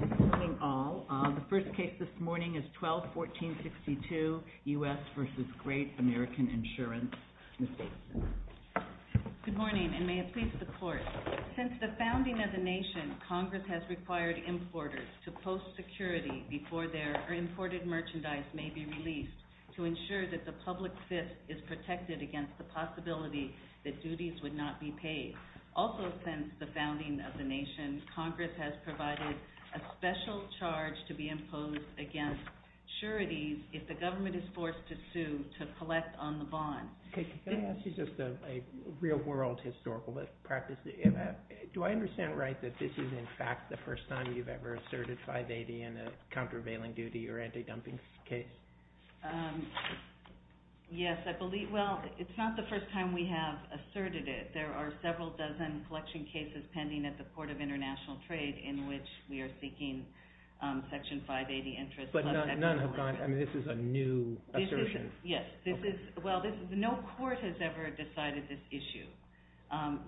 Good morning, all. The first case this morning is 12-1462, U.S. v. Great American Insurance. Ms. Davidson. Good morning, and may it please the Court. Since the founding of the nation, Congress has required importers to post security before their imported merchandise may be released to ensure that the public fist is protected against the possibility that duties would not be paid. Also, since the founding of the nation, Congress has provided a special charge to be imposed against sureties if the government is forced to sue to collect on the bond. Can I ask you just a real-world historical practice? Do I understand right that this is, in fact, the first time you've ever asserted 580 in a countervailing duty or anti-dumping case? Yes, I believe, well, it's not the first time we have asserted it. There are several dozen collection cases pending at the Port of International Trade in which we are seeking Section 580 interest. But none have gone, I mean, this is a new assertion. Yes, this is, well, no court has ever decided this issue.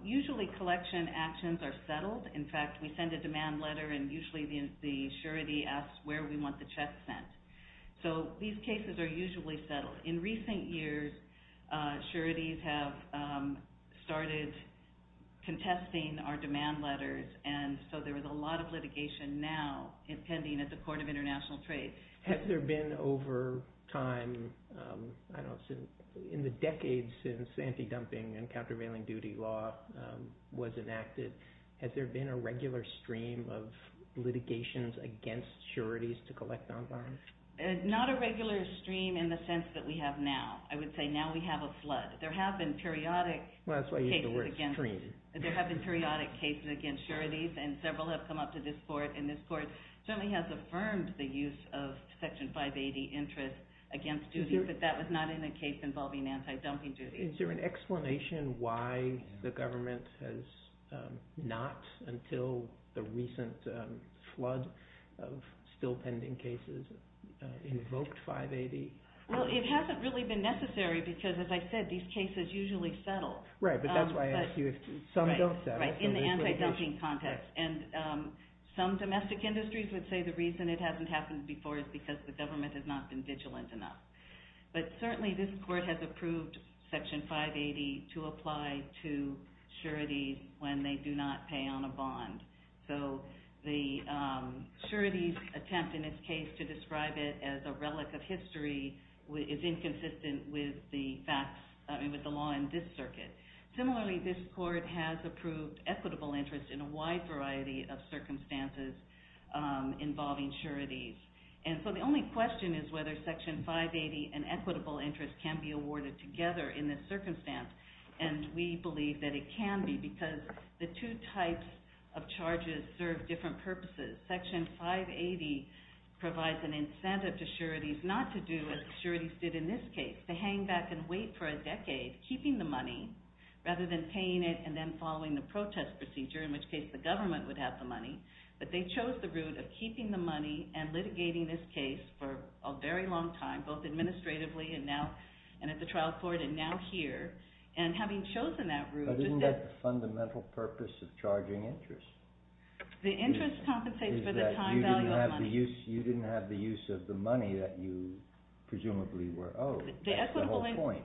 Usually collection actions are settled. In fact, we send a demand letter and usually the surety asks where we want the check sent. So these cases are usually settled. In recent years, sureties have started contesting our demand letters and so there is a lot of litigation now pending at the Court of International Trade. Has there been over time, in the decades since anti-dumping and countervailing duty law was enacted, has there been a regular stream of litigations against sureties to collect on bonds? Not a regular stream in the sense that we have now. I would say now we have a flood. There have been periodic cases against sureties and several have come up to this court. It certainly has affirmed the use of Section 580 interest against duties, but that was not in the case involving anti-dumping duties. Is there an explanation why the government has not, until the recent flood of still pending cases, invoked 580? Well, it hasn't really been necessary because, as I said, these cases usually settle. Right, but that's why I asked you if some don't settle. Right, in the anti-dumping context. And some domestic industries would say the reason it hasn't happened before is because the government has not been vigilant enough. But certainly this court has approved Section 580 to apply to sureties when they do not pay on a bond. So the sureties attempt, in this case, to describe it as a relic of history is inconsistent with the law in this circuit. Similarly, this court has approved equitable interest in a wide variety of circumstances involving sureties. And so the only question is whether Section 580 and equitable interest can be awarded together in this circumstance. And we believe that it can be because the two types of charges serve different purposes. Section 580 provides an incentive to sureties not to do what the sureties did in this case, to hang back and wait for a decade, keeping the money, rather than paying it and then following the protest procedure, in which case the government would have the money. But they chose the route of keeping the money and litigating this case for a very long time, both administratively and at the trial court and now here. But isn't that the fundamental purpose of charging interest? The interest compensates for the time value of money. You didn't have the use of the money that you presumably were owed. That's the whole point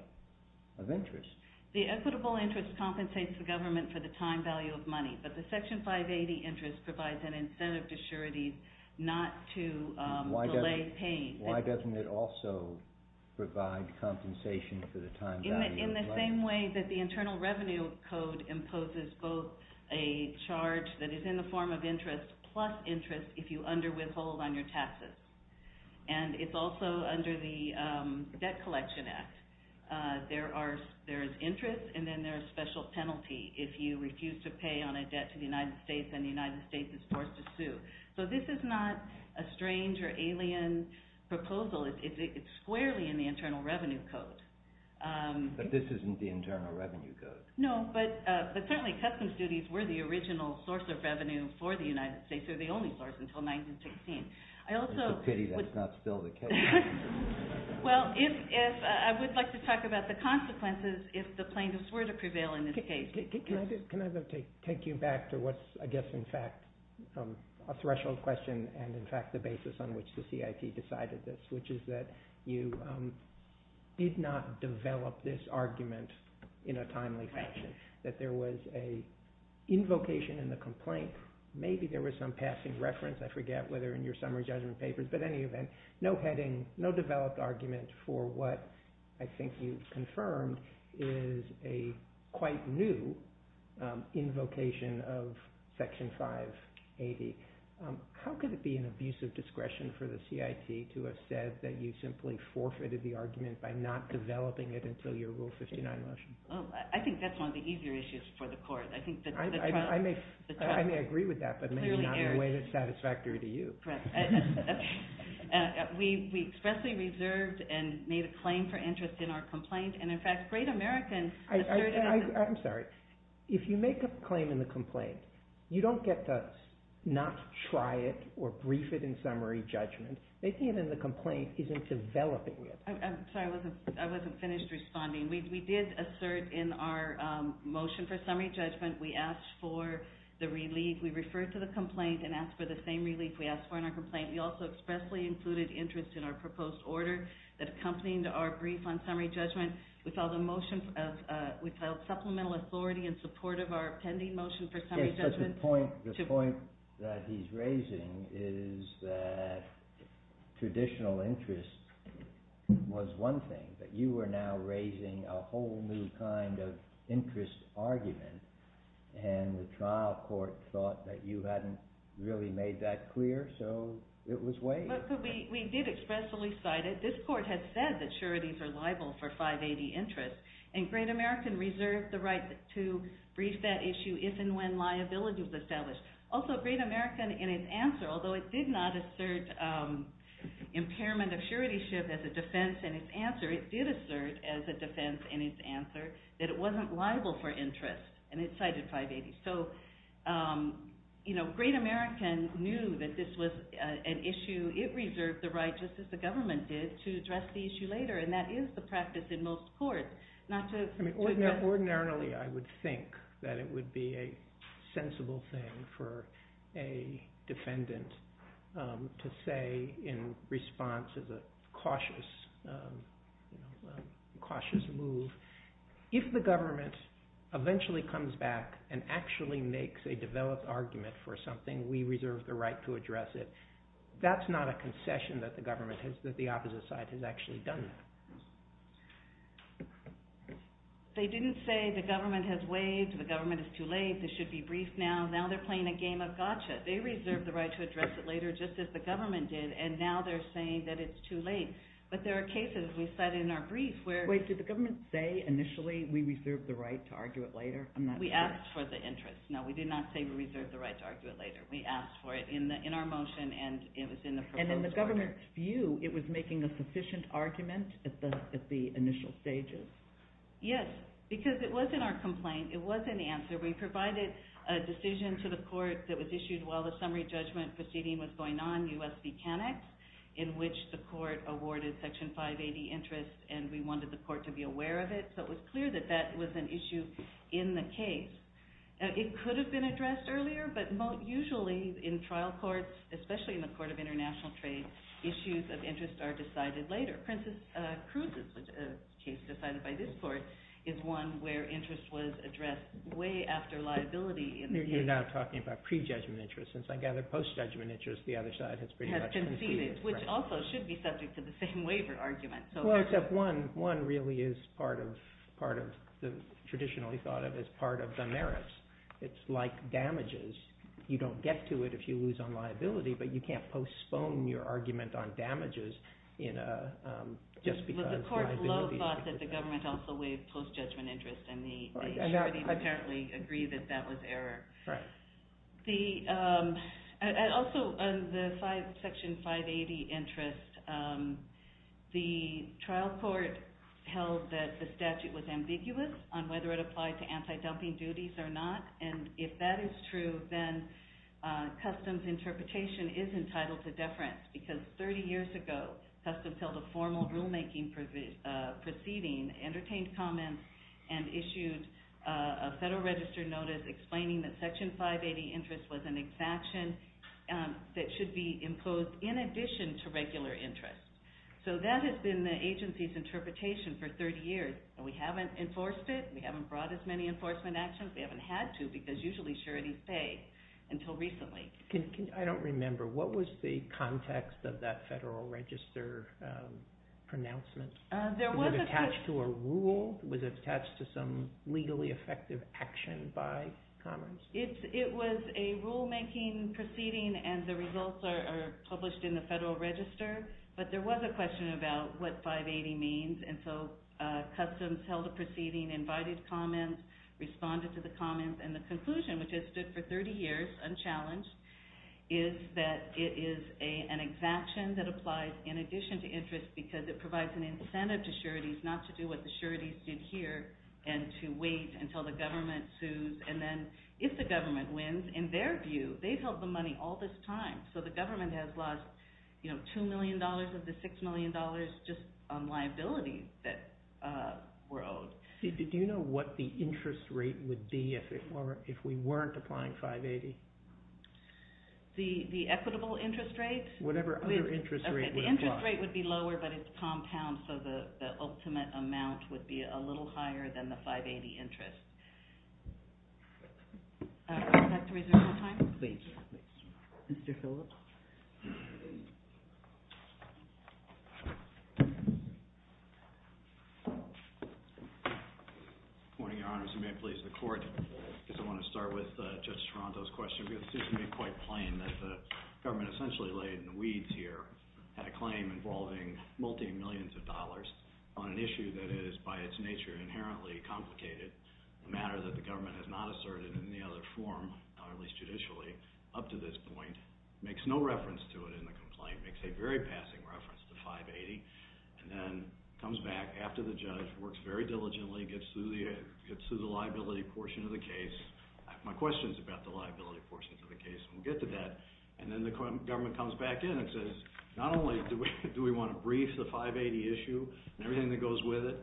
of interest. The equitable interest compensates the government for the time value of money, but the Section 580 interest provides an incentive to sureties not to delay paying. Why doesn't it also provide compensation for the time value of money? In the same way that the Internal Revenue Code imposes both a charge that is in the form of interest plus interest if you underwithhold on your taxes. And it's also under the Debt Collection Act. There is interest and then there is a special penalty if you refuse to pay on a debt to the United States and the United States is forced to sue. So this is not a strange or alien proposal. It's squarely in the Internal Revenue Code. But this isn't the Internal Revenue Code? No, but certainly customs duties were the original source of revenue for the United States. They were the only source until 1916. It's a pity that's not still the case. Well, I would like to talk about the consequences if the plaintiffs were to prevail in this case. Can I take you back to what's I guess in fact a threshold question and in fact the basis on which the CIT decided this, which is that you did not develop this argument in a timely fashion, that there was an invocation in the complaint. Maybe there was some passing reference. I forget whether in your summary judgment papers. No heading, no developed argument for what I think you've confirmed is a quite new invocation of Section 580. How could it be an abuse of discretion for the CIT to have said that you simply forfeited the argument by not developing it until your Rule 59 motion? I think that's one of the easier issues for the court. I may agree with that, but maybe not in a way that's satisfactory to you. We expressly reserved and made a claim for interest in our complaint, and in fact Great American asserted… I'm sorry. If you make a claim in the complaint, you don't get to not try it or brief it in summary judgment. They see it in the complaint isn't developing it. I'm sorry, I wasn't finished responding. We did assert in our motion for summary judgment, we asked for the relief. We referred to the complaint and asked for the same relief we asked for in our complaint. We also expressly included interest in our proposed order that accompanied our brief on summary judgment. We filed supplemental authority in support of our pending motion for summary judgment. The point that he's raising is that traditional interest was one thing, but you are now raising a whole new kind of interest argument. The trial court thought that you hadn't really made that clear, so it was waived. We did expressly cite it. This court had said that sureties are liable for 580 interest, and Great American reserved the right to brief that issue if and when liability was established. Also, Great American, in its answer, although it did not assert impairment of suretyship as a defense in its answer, it did assert as a defense in its answer that it wasn't liable for interest, and it cited 580. So Great American knew that this was an issue. It reserved the right, just as the government did, to address the issue later, and that is the practice in most courts. Ordinarily, I would think that it would be a sensible thing for a defendant to say in response to the cautious move, if the government eventually comes back and actually makes a developed argument for something, we reserve the right to address it. That's not a concession that the government has, that the opposite side has actually done that. They didn't say the government has waived, the government is too late, this should be briefed now. Now they're playing a game of gotcha. They reserved the right to address it later, just as the government did, and now they're saying that it's too late. But there are cases, as we cited in our brief, where... Wait, did the government say initially, we reserve the right to argue it later? We asked for the interest. No, we did not say we reserve the right to argue it later. We asked for it in our motion, and it was in the proposed order. And in the government's view, it was making a sufficient argument at the initial stages? Yes, because it was in our complaint, it was in the answer. We provided a decision to the court that was issued while the summary judgment proceeding was going on, U.S. v. Canucks, in which the court awarded Section 580 interest, and we wanted the court to be aware of it. So it was clear that that was an issue in the case. It could have been addressed earlier, but usually in trial courts, especially in the Court of International Trade, issues of interest are decided later. Princess Cruz's case, decided by this court, is one where interest was addressed way after liability. You're now talking about pre-judgment interest. Since I gather post-judgment interest, the other side has pretty much conceded. Has conceded, which also should be subject to the same waiver argument. Well, except one really is traditionally thought of as part of the merits. It's like damages. You don't get to it if you lose on liability, but you can't postpone your argument on damages. The court's low thought that the government also waived post-judgment interest, and the attorneys apparently agree that that was error. Also, on the Section 580 interest, the trial court held that the statute was ambiguous on whether it applied to anti-dumping duties or not, and if that is true, then Customs interpretation is entitled to deference, because 30 years ago, Customs held a formal rulemaking proceeding, entertained comments, and issued a Federal Register notice explaining that Section 580 interest was an exaction that should be imposed in addition to regular interest. So that has been the agency's interpretation for 30 years. We haven't enforced it. We haven't brought as many enforcement actions. We haven't had to, because usually sureties say, until recently. I don't remember. What was the context of that Federal Register pronouncement? Was it attached to a rule? Was it attached to some legally effective action by Commons? It was a rulemaking proceeding, and the results are published in the Federal Register, but there was a question about what 580 means, and so Customs held a proceeding, invited comments, responded to the comments, and the conclusion, which has stood for 30 years unchallenged, is that it is an exaction that applies in addition to interest because it provides an incentive to sureties not to do what the sureties did here and to wait until the government sues, and then if the government wins, in their view, they've held the money all this time, so the government has lost $2 million of the $6 million just on liabilities that were owed. Did you know what the interest rate would be if we weren't applying 580? The equitable interest rate? Whatever other interest rate would apply. The interest rate would be lower, but it's compound, so the ultimate amount would be a little higher than the 580 interest. Would you like to reserve your time? Please. Mr. Phillips? Good morning, Your Honors. You may please the Court. I guess I want to start with Judge Toronto's question because it seems to me quite plain that the government essentially laid in weeds here at a claim involving multi-millions of dollars on an issue that is, by its nature, inherently complicated, a matter that the government has not asserted in any other form, at least judicially, up to this point, makes no reference to it in the complaint, makes a very passing reference to 580, and then comes back after the judge works very diligently, gets through the liability portion of the case. I have my questions about the liability portions of the case, and we'll get to that, and then the government comes back in and says, not only do we want to brief the 580 issue and everything that goes with it,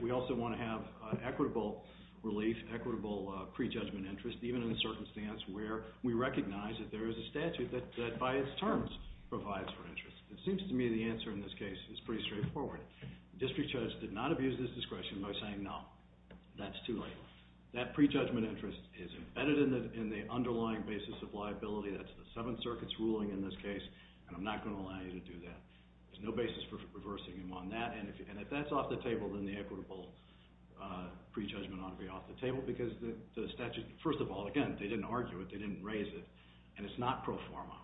we also want to have equitable relief, equitable prejudgment interest, even in a circumstance where we recognize that there is a statute that, by its terms, provides for interest. It seems to me the answer in this case is pretty straightforward. The district judge did not abuse this discretion by saying, no, that's too late. That prejudgment interest is embedded in the underlying basis of liability. That's the Seventh Circuit's ruling in this case, and I'm not going to allow you to do that. There's no basis for reversing him on that, and if that's off the table, then the equitable prejudgment ought to be off the table because the statute, first of all, again, they didn't argue it. They didn't raise it, and it's not pro forma.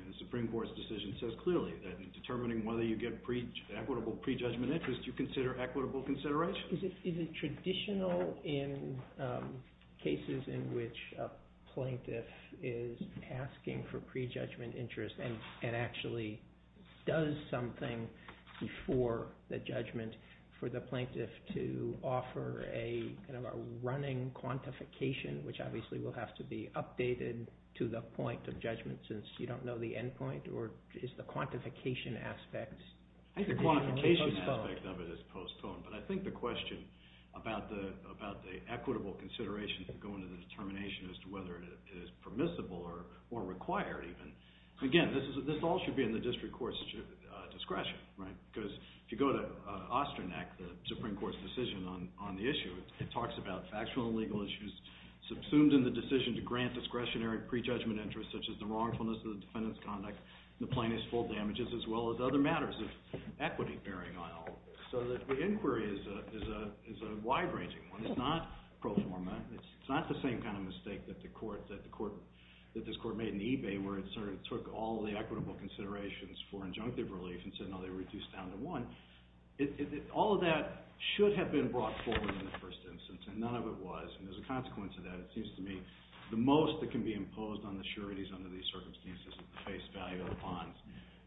The Supreme Court's decision says clearly that in determining whether you get equitable prejudgment interest, you consider equitable consideration. Is it traditional in cases in which a plaintiff is asking for prejudgment interest and actually does something before the judgment for the plaintiff to offer a kind of a running quantification, which obviously will have to be updated to the point of judgment since you don't know the end point, or is the quantification aspect being postponed? The quantification aspect of it is postponed, but I think the question about the equitable considerations that go into the determination as to whether it is permissible or required even, again, this all should be in the district court's discretion, right? Because if you go to Ostrinac, the Supreme Court's decision on the issue, it talks about factual and legal issues subsumed in the decision to grant discretionary prejudgment interest such as the wrongfulness of the defendant's conduct, the plaintiff's full damages, as well as other matters of equity bearing on all of this. So the inquiry is a wide-ranging one. It's not pro forma. It's not the same kind of mistake that the court, that this court made in eBay where it sort of took all the equitable considerations for injunctive relief and said, no, they reduced down to one. All of that should have been brought forward in the first instance, and none of it was. And as a consequence of that, it seems to me the most that can be imposed on the sureties under these circumstances is the face value of the bonds.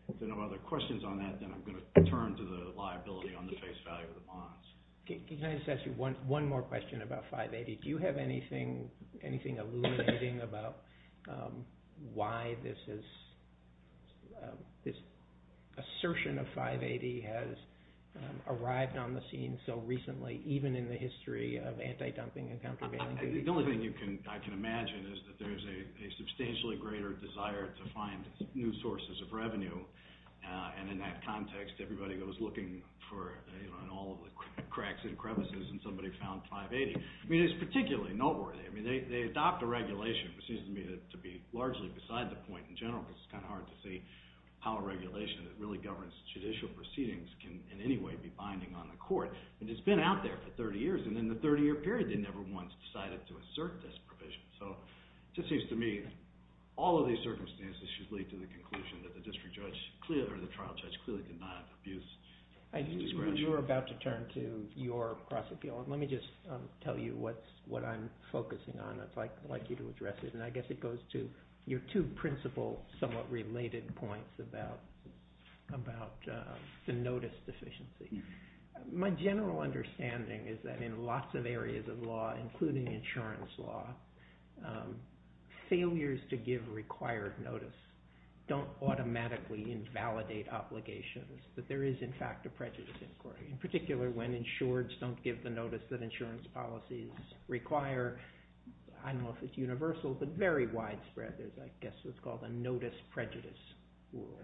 If there are no other questions on that, then I'm going to turn to the liability on the face value of the bonds. Can I just ask you one more question about 580? Do you have anything illuminating about why this assertion of 580 has arrived on the scene so recently, even in the history of anti-dumping and countervailing? The only thing I can imagine is that there's a substantially greater desire to find new sources of revenue. And in that context, everybody goes looking in all the cracks and crevices, and somebody found 580. I mean, it's particularly noteworthy. I mean, they adopt a regulation, which seems to me to be largely beside the point in general because it's kind of hard to see how a regulation that really governs judicial proceedings can in any way be binding on the court. And it's been out there for 30 years, and in the 30-year period, they never once decided to assert this provision. So it just seems to me all of these circumstances should lead to the conclusion that the district judge or the trial judge clearly did not abuse discretion. You were about to turn to your cross-appeal, and let me just tell you what I'm focusing on. I'd like you to address it, and I guess it goes to your two principal somewhat related points about the notice deficiency. My general understanding is that in lots of areas of law, including insurance law, failures to give required notice don't automatically invalidate obligations, that there is in fact a prejudice inquiry, in particular when insureds don't give the notice that insurance policies require. I don't know if it's universal, but very widespread is I guess what's called a notice prejudice rule.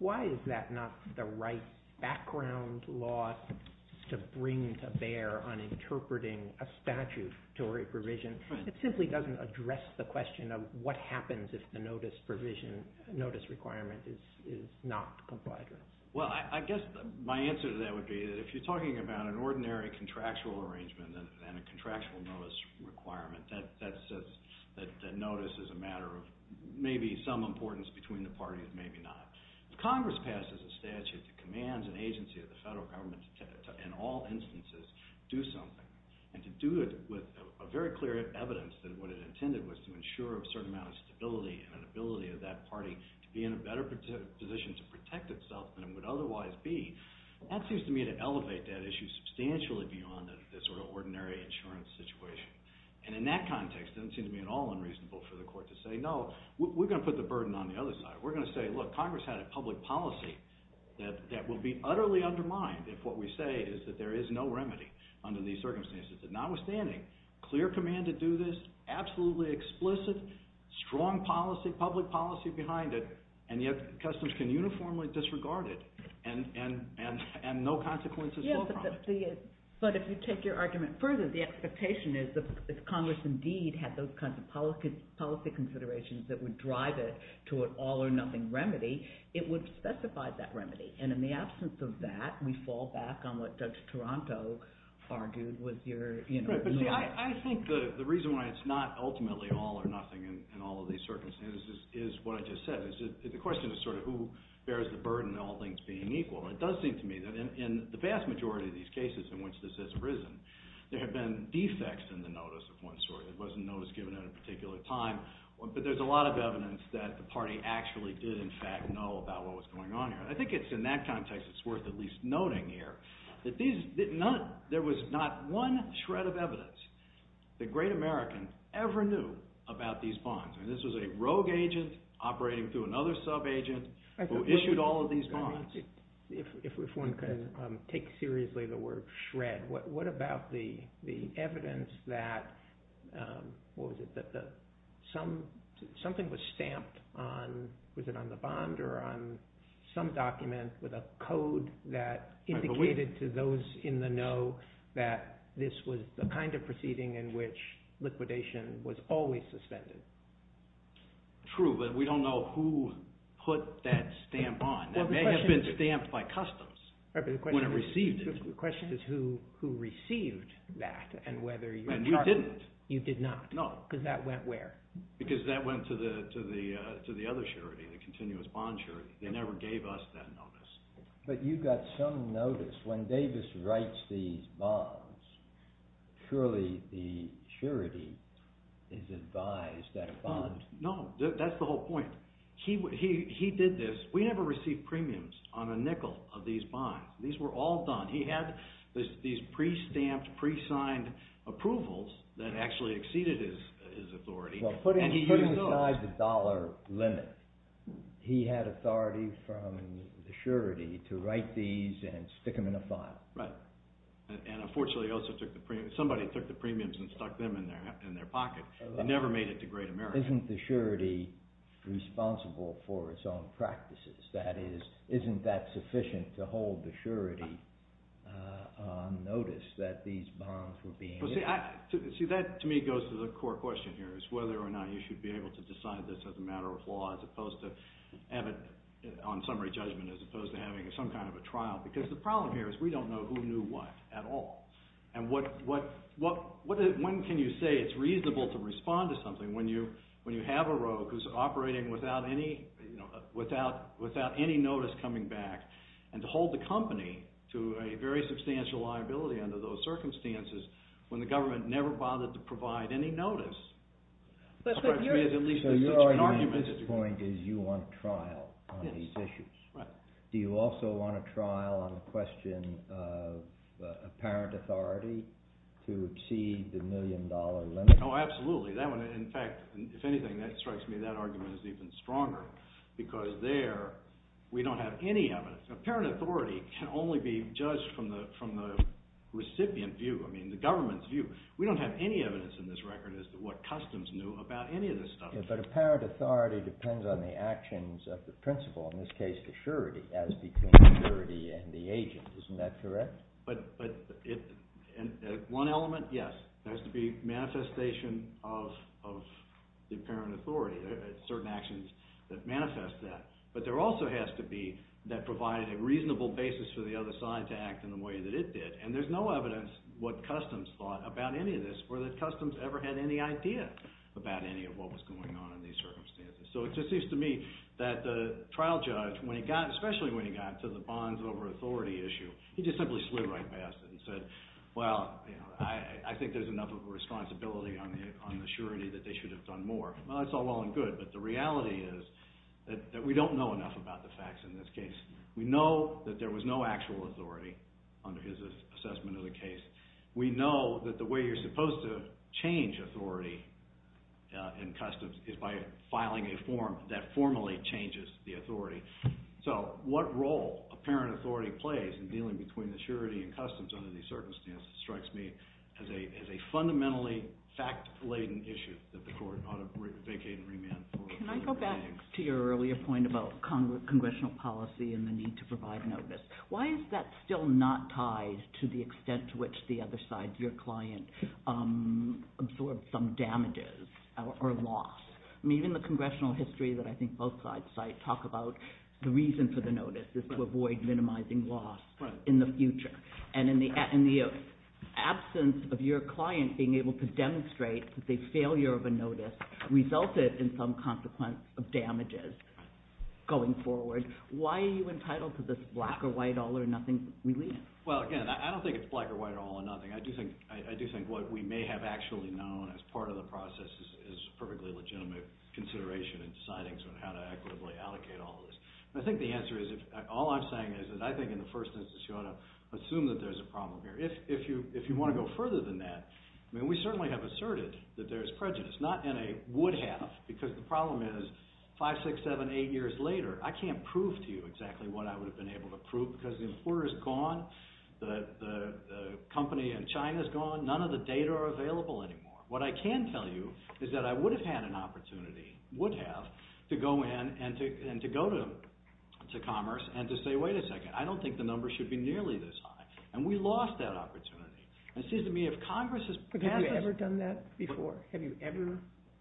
Why is that not the right background law to bring to bear on interpreting a statutory provision? It simply doesn't address the question of what happens if the notice requirement is not complied with. Well, I guess my answer to that would be that if you're talking about an ordinary contractual arrangement and a contractual notice requirement, that notice is a matter of maybe some importance between the parties, and maybe not. If Congress passes a statute that commands an agency of the federal government to, in all instances, do something, and to do it with a very clear evidence that what it intended was to ensure a certain amount of stability and an ability of that party to be in a better position to protect itself than it would otherwise be, that seems to me to elevate that issue substantially beyond this ordinary insurance situation. And in that context, it doesn't seem to me at all unreasonable for the court to say, no, we're going to put the burden on the other side. We're going to say, look, Congress had a public policy that will be utterly undermined if what we say is that there is no remedy under these circumstances. But notwithstanding, clear command to do this, absolutely explicit, strong policy, public policy behind it, and yet customs can uniformly disregard it and no consequences fall from it. But if you take your argument further, the expectation is that if Congress indeed had those kinds of policy considerations that would drive it to an all-or-nothing remedy, it would specify that remedy. And in the absence of that, we fall back on what Judge Toronto argued was your… Right, but see, I think the reason why it's not ultimately all-or-nothing in all of these circumstances is what I just said. The question is sort of who bears the burden of all things being equal. And it does seem to me that in the vast majority of these cases in which this has arisen, there have been defects in the notice of one sort. It wasn't noticed given at a particular time. But there's a lot of evidence that the party actually did in fact know about what was going on here. And I think it's in that context it's worth at least noting here that there was not one shred of evidence that great Americans ever knew about these bonds. This was a rogue agent operating through another sub-agent who issued all of these bonds. If one can take seriously the word shred, what about the evidence that something was stamped on, was it on the bond or on some document with a code that indicated to those in the know that this was the kind of proceeding in which liquidation was always suspended? True, but we don't know who put that stamp on. It may have been stamped by customs when it received it. The question is who received that and whether you… And you didn't. You did not. No. Because that went where? Because that went to the other charity, the Continuous Bond Charity. They never gave us that notice. But you got some notice. When Davis writes these bonds, surely the charity is advised that a bond… No, that's the whole point. He did this. We never received premiums on a nickel of these bonds. These were all done. He had these pre-stamped, pre-signed approvals that actually exceeded his authority. Putting aside the dollar limit, he had authority from the surety to write these and stick them in a file. Right. And unfortunately, somebody took the premiums and stuck them in their pocket. They never made it to Great America. Isn't the surety responsible for its own practices? That is, isn't that sufficient to hold the surety on notice that these bonds were being issued? See, that to me goes to the core question here, is whether or not you should be able to decide this as a matter of law as opposed to have it on summary judgment as opposed to having some kind of a trial. Because the problem here is we don't know who knew what at all. And when can you say it's reasonable to respond to something when you have a rogue who's operating without any notice coming back and to hold the company to a very substantial liability under those circumstances when the government never bothered to provide any notice? So your argument at this point is you want trial on these issues. Do you also want a trial on the question of apparent authority to exceed the million dollar limit? Oh, absolutely. In fact, if anything, that strikes me that argument is even stronger because there we don't have any evidence. Apparent authority can only be judged from the recipient view, I mean the government's view. We don't have any evidence in this record as to what customs knew about any of this stuff. But apparent authority depends on the actions of the principal, in this case the surety, as between the surety and the agent. Isn't that correct? But one element, yes. There has to be manifestation of the apparent authority, certain actions that manifest that. But there also has to be that provide a reasonable basis for the other side to act in the way that it did. And there's no evidence what customs thought about any of this or that customs ever had any idea about any of what was going on in these circumstances. So it just seems to me that the trial judge, especially when he got to the bonds over authority issue, he just simply slid right past it and said, well, I think there's enough of a responsibility on the surety that they should have done more. Well, that's all well and good, but the reality is that we don't know enough about the facts in this case. We know that there was no actual authority under his assessment of the case. We know that the way you're supposed to change authority in customs is by filing a form that formally changes the authority. So what role apparent authority plays in dealing between the surety and customs under these circumstances strikes me as a fundamentally fact-laden issue that the court ought to vacate and remand. Can I go back to your earlier point about congressional policy and the need to provide notice? Why is that still not tied to the extent to which the other side, your client, absorbed some damages or loss? I mean, even the congressional history that I think both sides cite talk about the reason for the notice is to avoid minimizing loss in the future. And in the absence of your client being able to demonstrate that the failure of a notice resulted in some consequence of damages going forward, why are you entitled to this black or white, all or nothing? Well, again, I don't think it's black or white or all or nothing. I do think what we may have actually known as part of the process is perfectly legitimate consideration in deciding how to equitably allocate all of this. I think the answer is, all I'm saying is that I think in the first instance you ought to assume that there's a problem here. If you want to go further than that, I mean, we certainly have asserted that there's prejudice. Not in a would have, because the problem is five, six, seven, eight years later, I can't prove to you exactly what I would have been able to prove because the employer is gone, the company in China is gone, none of the data are available anymore. What I can tell you is that I would have had an opportunity, would have, to go in and to go to Commerce and to say, wait a second, I don't think the number should be nearly this high. And we lost that opportunity. But have you ever done that before? Have you ever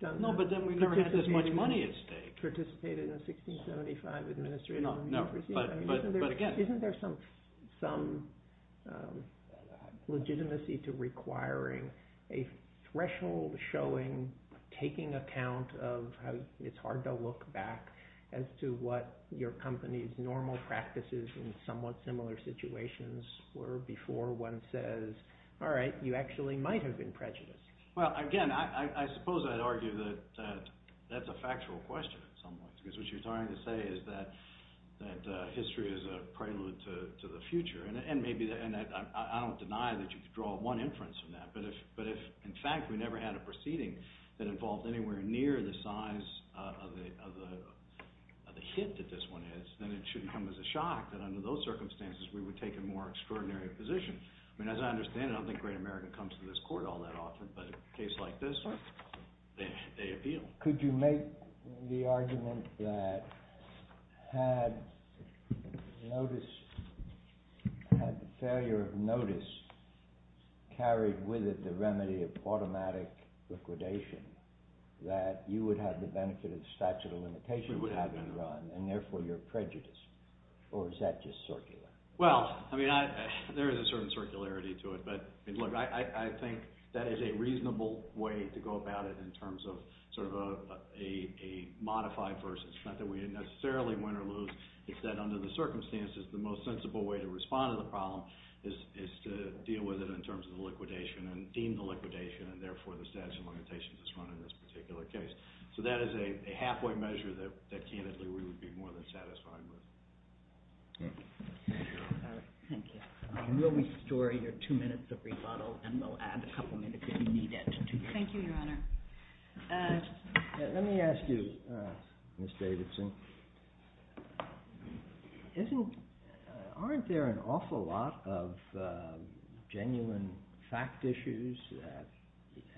done that? No, but then we never had this much money at stake. Participated in a 1675 administration. No, no. But again. Isn't there some legitimacy to requiring a threshold showing, taking account of how it's hard to look back as to what your company's normal practices in somewhat similar situations were before one says, all right, you actually might have been prejudiced? Well, again, I suppose I'd argue that that's a factual question in some ways. Because what you're trying to say is that history is a prelude to the future. And I don't deny that you could draw one inference from that. But if in fact we never had a proceeding that involved anywhere near the size of the hit that this one is, then it shouldn't come as a shock that under those circumstances we would take a more extraordinary position. I mean, as I understand it, I don't think Great America comes to this court all that often. But in a case like this, they appeal. Could you make the argument that had notice – had the failure of notice carried with it the remedy of automatic liquidation that you would have the benefit of statute of limitations having run and therefore you're prejudiced? Or is that just circular? Well, I mean, there is a certain circularity to it. But look, I think that is a reasonable way to go about it in terms of sort of a modified versus. It's not that we necessarily win or lose. It's that under the circumstances, the most sensible way to respond to the problem is to deal with it in terms of the liquidation and deem the liquidation and therefore the statute of limitations is run in this particular case. So that is a halfway measure that candidly we would be more than satisfied with. Thank you. We'll restore your two minutes of rebuttal and we'll add a couple minutes if you need it. Thank you, Your Honor. Let me ask you, Ms. Davidson, aren't there an awful lot of genuine fact issues that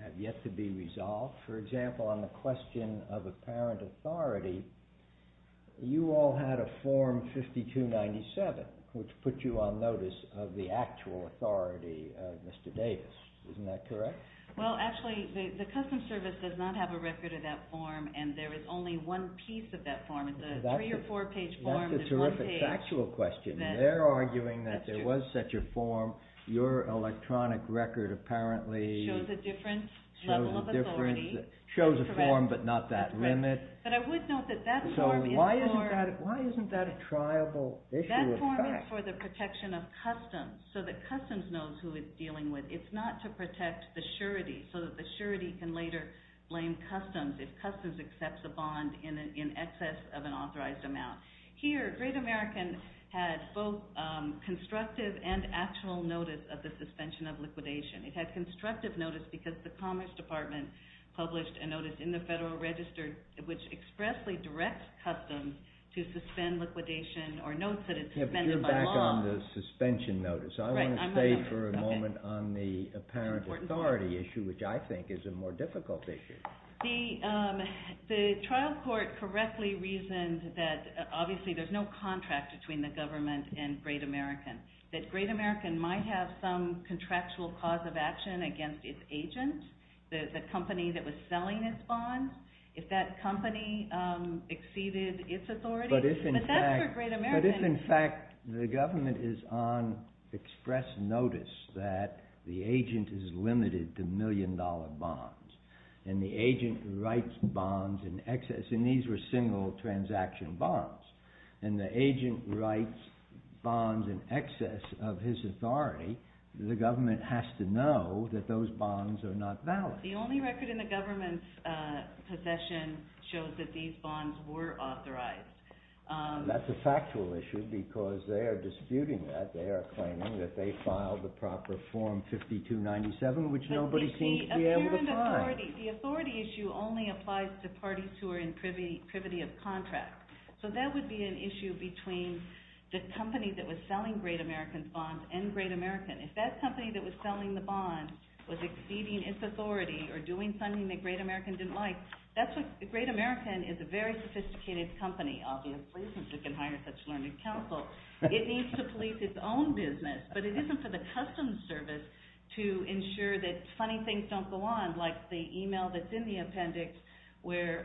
have yet to be resolved? For example, on the question of apparent authority, you all had a form 5297, which put you on notice of the actual authority of Mr. Davis. Isn't that correct? Well, actually, the Customs Service does not have a record of that form and there is only one piece of that form. It's a three or four page form. That's a terrific factual question. They're arguing that there was such a form. Your electronic record apparently shows a form but not that limit. But I would note that that form is for the protection of customs so that customs knows who it's dealing with. It's not to protect the surety so that the surety can later blame customs if customs accepts a bond in excess of an authorized amount. Here, Great American had both constructive and actual notice of the suspension of liquidation. It had constructive notice because the Commerce Department published a notice in the Federal Register which expressly directs customs to suspend liquidation or notes that it suspended by law. You're back on the suspension notice. I want to stay for a moment on the apparent authority issue, which I think is a more difficult issue. The trial court correctly reasoned that obviously there's no contract between the government and Great American. That Great American might have some contractual cause of action against its agent, the company that was selling its bonds, if that company exceeded its authority. But if in fact the government is on express notice that the agent is limited to million dollar bonds and the agent writes bonds in excess, and these were single transaction bonds, and the agent writes bonds in excess of his authority, the government has to know that those bonds are not valid. The only record in the government's possession shows that these bonds were authorized. That's a factual issue because they are disputing that. They are claiming that they filed the proper form 5297, which nobody seems to be able to find. The authority issue only applies to parties who are in privity of contract. So that would be an issue between the company that was selling Great American's bonds and Great American. If that company that was selling the bonds was exceeding its authority or doing something that Great American didn't like, that's what Great American is a very sophisticated company, obviously, since it can hire such learned counsel. It needs to police its own business, but it isn't for the customs service to ensure that funny things don't go on, like the email that's in the appendix where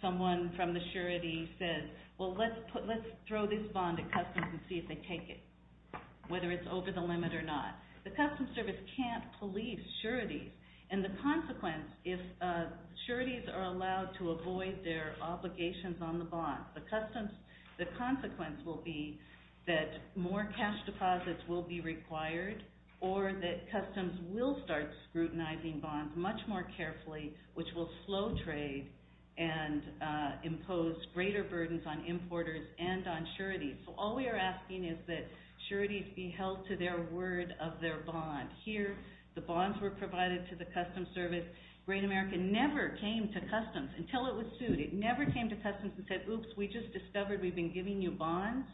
someone from the surety says, well, let's throw this bond at customs and see if they take it, whether it's over the limit or not. The customs service can't police sureties, and the consequence, if sureties are allowed to avoid their obligations on the bonds, the consequence will be that more cash deposits will be required or that customs will start scrutinizing bonds much more carefully, which will slow trade and impose greater burdens on importers and on sureties. So all we are asking is that sureties be held to their word of their bond. Here, the bonds were provided to the customs service. Great American never came to customs until it was sued. It never came to customs and said, oops, we just discovered we've been giving you bonds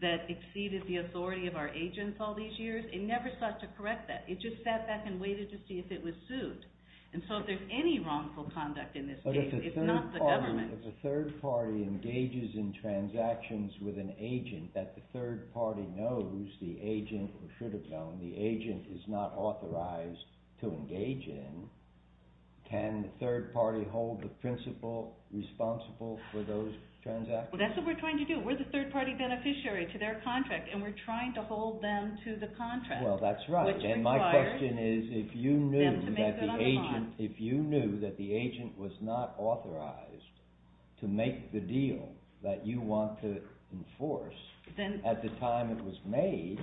that exceeded the authority of our agents all these years. It never sought to correct that. It just sat back and waited to see if it was sued. And so if there's any wrongful conduct in this case, it's not the government. But if the third party engages in transactions with an agent that the third party knows the agent, or should have known the agent is not authorized to engage in, can the third party hold the principal responsible for those transactions? Well, that's what we're trying to do. We're the third party beneficiary to their contract, and we're trying to hold them to the contract. Well, that's right. And my question is, if you knew that the agent was not authorized to make the deal that you want to enforce, at the time it was made,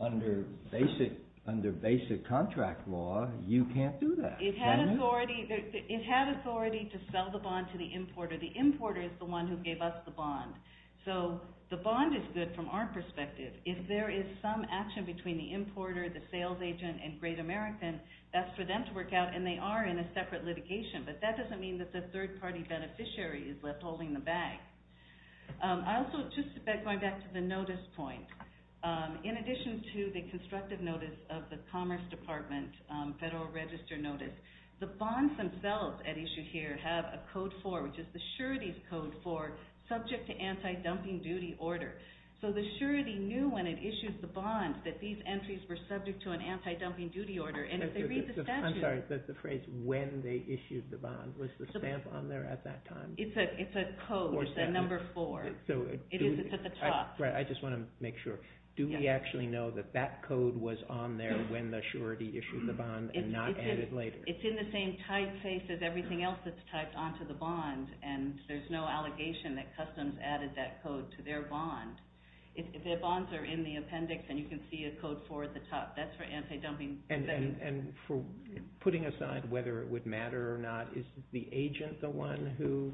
under basic contract law, you can't do that, can you? It had authority to sell the bond to the importer. The importer is the one who gave us the bond. So the bond is good from our perspective. If there is some action between the importer, the sales agent, and Great American, that's for them to work out, and they are in a separate litigation. But that doesn't mean that the third party beneficiary is left holding the bag. Also, just going back to the notice point, in addition to the constructive notice of the Commerce Department Federal Register Notice, the bonds themselves at issue here have a Code 4, which is the surety's Code 4, subject to anti-dumping duty order. So the surety knew when it issued the bond that these entries were subject to an anti-dumping duty order, and if they read the statute... I'm sorry, that's the phrase, when they issued the bond. Was the stamp on there at that time? It's a code, the number 4. It's at the top. I just want to make sure. Do we actually know that that code was on there when the surety issued the bond and not added later? It's in the same typeface as everything else that's typed onto the bond, and there's no allegation that Customs added that code to their bond. If their bonds are in the appendix and you can see a Code 4 at the top, that's for anti-dumping. And for putting aside whether it would matter or not, is the agent the one who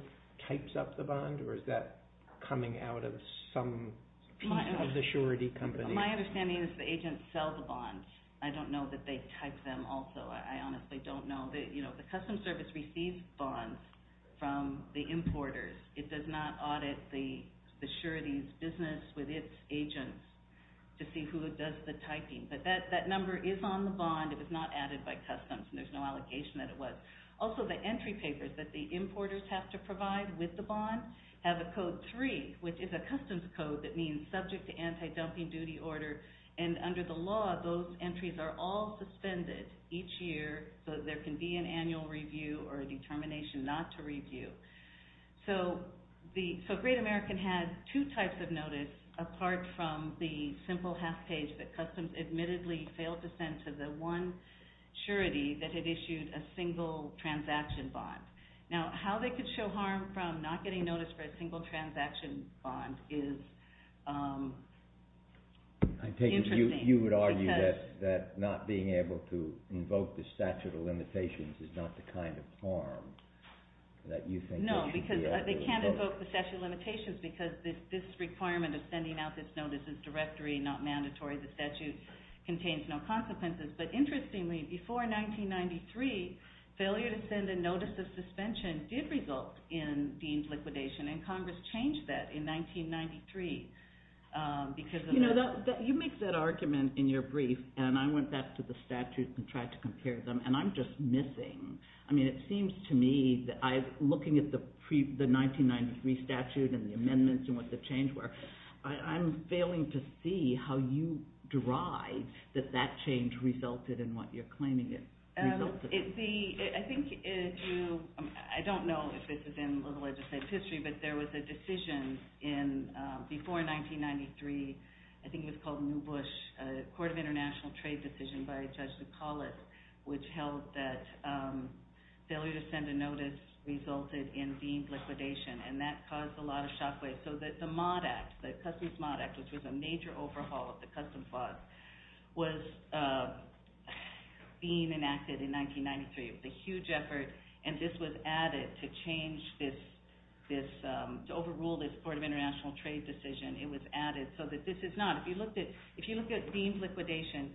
types up the bond, or is that coming out of some piece of the surety company? My understanding is the agent sells the bonds. I don't know that they type them also. I honestly don't know. The Customs Service receives bonds from the importers. It does not audit the surety's business with its agents to see who does the typing. But that number is on the bond. It was not added by Customs, and there's no allegation that it was. Also, the entry papers that the importers have to provide with the bond have a Code 3, which is a customs code that means subject to anti-dumping duty order. And under the law, those entries are all suspended each year, so there can be an annual review or a determination not to review. So Great American had two types of notice apart from the simple half page that Customs admittedly failed to send to the one surety that had issued a single transaction bond. Now, how they could show harm from not getting notice for a single transaction bond is interesting. You would argue that not being able to invoke the statute of limitations is not the kind of harm that you think it should be. No, because they can't invoke the statute of limitations because this requirement of sending out this notice is directory, not mandatory. The statute contains no consequences. But interestingly, before 1993, failure to send a notice of suspension did result in deemed liquidation, and Congress changed that in 1993 because of that. You make that argument in your brief, and I went back to the statute and tried to compare them, and I'm just missing, I mean, it seems to me, looking at the 1993 statute and the amendments and what the changes were, I'm failing to see how you derive that that change resulted in what you're claiming it resulted in. I think, I don't know if this is in the legislative history, but there was a decision before 1993, I think it was called New Bush, a Court of International Trade decision by Judge Nicholas, which held that failure to send a notice resulted in deemed liquidation, and that caused a lot of shockwaves. So the Customs Mod Act, which was a major overhaul of the Customs Clause, was being enacted in 1993. It was a huge effort, and this was added to change this, to overrule this Court of International Trade decision. It was added so that this is not, if you look at deemed liquidation,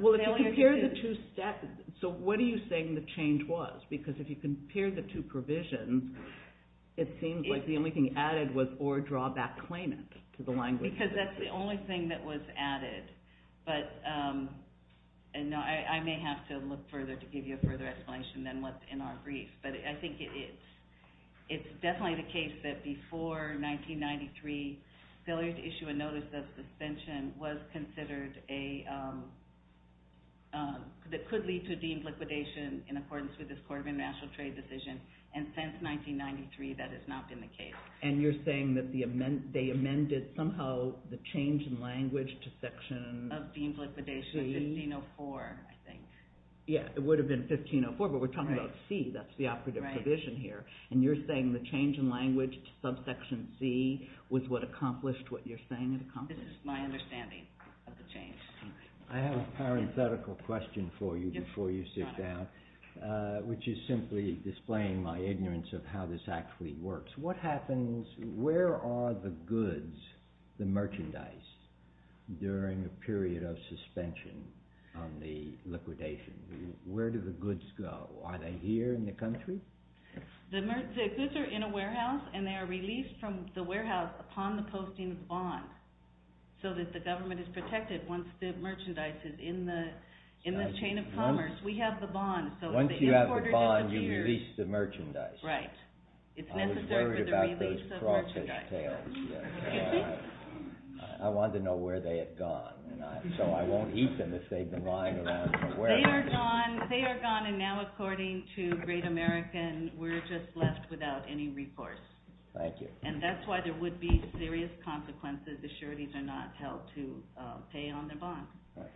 Well, if you compare the two statutes, so what are you saying the change was? Because if you compare the two provisions, it seems like the only thing added was or drawback claimant to the language. Because that's the only thing that was added, but I may have to look further to give you a further explanation than what's in our brief, but I think it's definitely the case that before 1993, failure to issue a notice of suspension was considered a, that could lead to deemed liquidation in accordance with this Court of International Trade decision, and since 1993 that has not been the case. And you're saying that they amended somehow the change in language to section C? Of deemed liquidation, 1504, I think. Yeah, it would have been 1504, but we're talking about C, that's the operative provision here. And you're saying the change in language to subsection C was what accomplished what you're saying it accomplished? This is my understanding of the change. I have a parenthetical question for you before you sit down, which is simply displaying my ignorance of how this actually works. What happens, where are the goods, the merchandise, during a period of suspension on the liquidation? Where do the goods go? Are they here in the country? The goods are in a warehouse, and they are released from the warehouse upon the posting of bonds, so that the government is protected once the merchandise is in the chain of commerce. We have the bonds. Once you have the bonds, you release the merchandise. Right. I was worried about those crawfish tails. I wanted to know where they had gone, so I won't eat them if they've been lying around for a while. They are gone, and now, according to Great American, we're just left without any recourse. Thank you. And that's why there would be serious consequences if sureties are not held to pay on their bonds.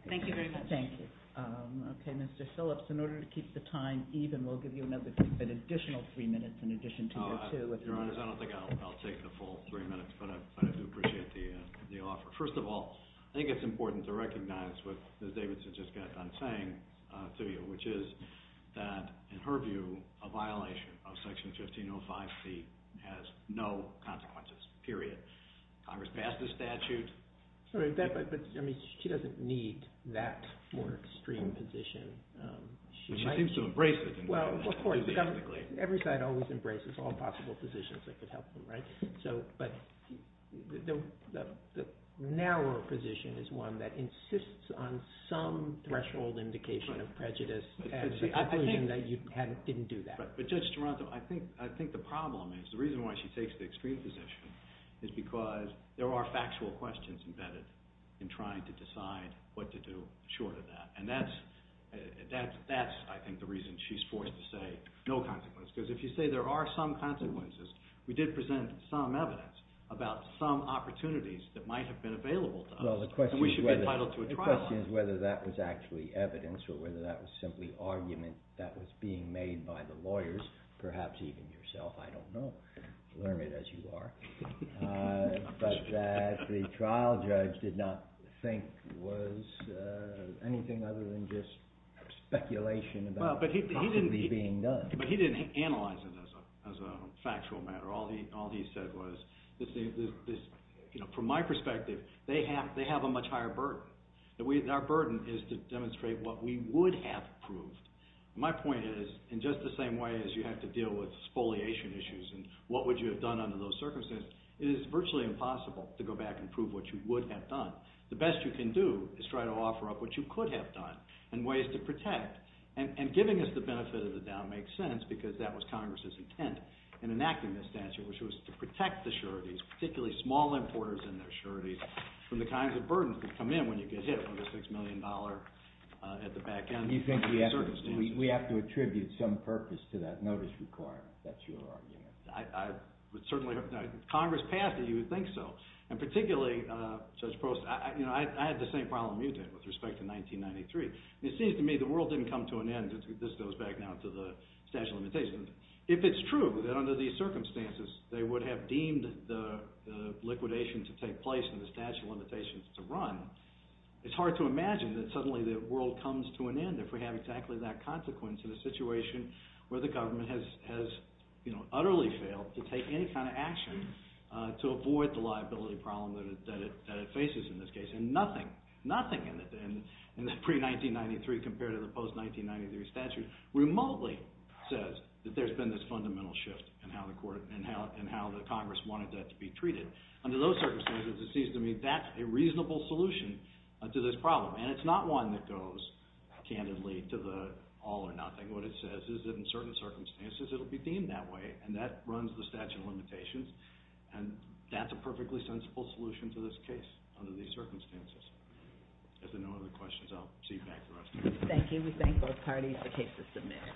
Thank you very much. Thank you. Okay, Mr. Phillips, in order to keep the time even, we'll give you an additional three minutes in addition to your two. Your Honor, I don't think I'll take the full three minutes, but I do appreciate the offer. First of all, I think it's important to recognize what Ms. Davidson just got done saying to you, which is that, in her view, a violation of Section 1505C has no consequences, period. Congress passed the statute. Sorry, but she doesn't need that more extreme position. She seems to embrace it. Well, of course, because every side always embraces all possible positions that could help them, right? But the narrower position is one that insists on some threshold indication of prejudice and the conclusion that you didn't do that. But, Judge Toronto, I think the problem is, the reason why she takes the extreme position is because there are factual questions embedded in trying to decide what to do short of that, and that's, I think, the reason she's forced to say no consequences, because if you say there are some consequences, we did present some evidence about some opportunities that might have been available to us, and we should be entitled to a trial. The question is whether that was actually evidence or whether that was simply argument that was being made by the lawyers, perhaps even yourself, I don't know. Learn it as you are. But that the trial judge did not think was anything other than just speculation about what could be being done. But he didn't analyze it as a factual matter. All he said was, from my perspective, they have a much higher burden. Our burden is to demonstrate what we would have proved. My point is, in just the same way as you have to deal with spoliation issues and what would you have done under those circumstances, it is virtually impossible to go back and prove what you would have done. The best you can do is try to offer up what you could have done and ways to protect, and giving us the benefit of the doubt makes sense because that was Congress's intent in enacting this statute, which was to protect the sureties, particularly small importers and their sureties, from the kinds of burdens that come in when you get hit with a $6 million at the back end of the circumstances. You think we have to attribute some purpose to that notice requirement, that's your argument? I would certainly hope not. If Congress passed it, you would think so. And particularly, Judge Post, I had the same problem you did with respect to 1993. It seems to me the world didn't come to an end. This goes back now to the statute of limitations. If it's true that under these circumstances they would have deemed the liquidation to take place and the statute of limitations to run, it's hard to imagine that suddenly the world comes to an end if we have exactly that consequence in a situation where the government has utterly failed to take any kind of action to avoid the liability problem that it faces in this case. And nothing, nothing in the pre-1993 compared to the post-1993 statute remotely says that there's been this fundamental shift in how the Congress wanted that to be treated. Under those circumstances, it seems to me that's a reasonable solution to this problem. And it's not one that goes, candidly, to the all or nothing. What it says is that in certain circumstances it will be deemed that way, and that runs the statute of limitations. And that's a perfectly sensible solution to this case under these circumstances. If there are no other questions, I'll see you back here. Thank you. We thank both parties for cases submitted.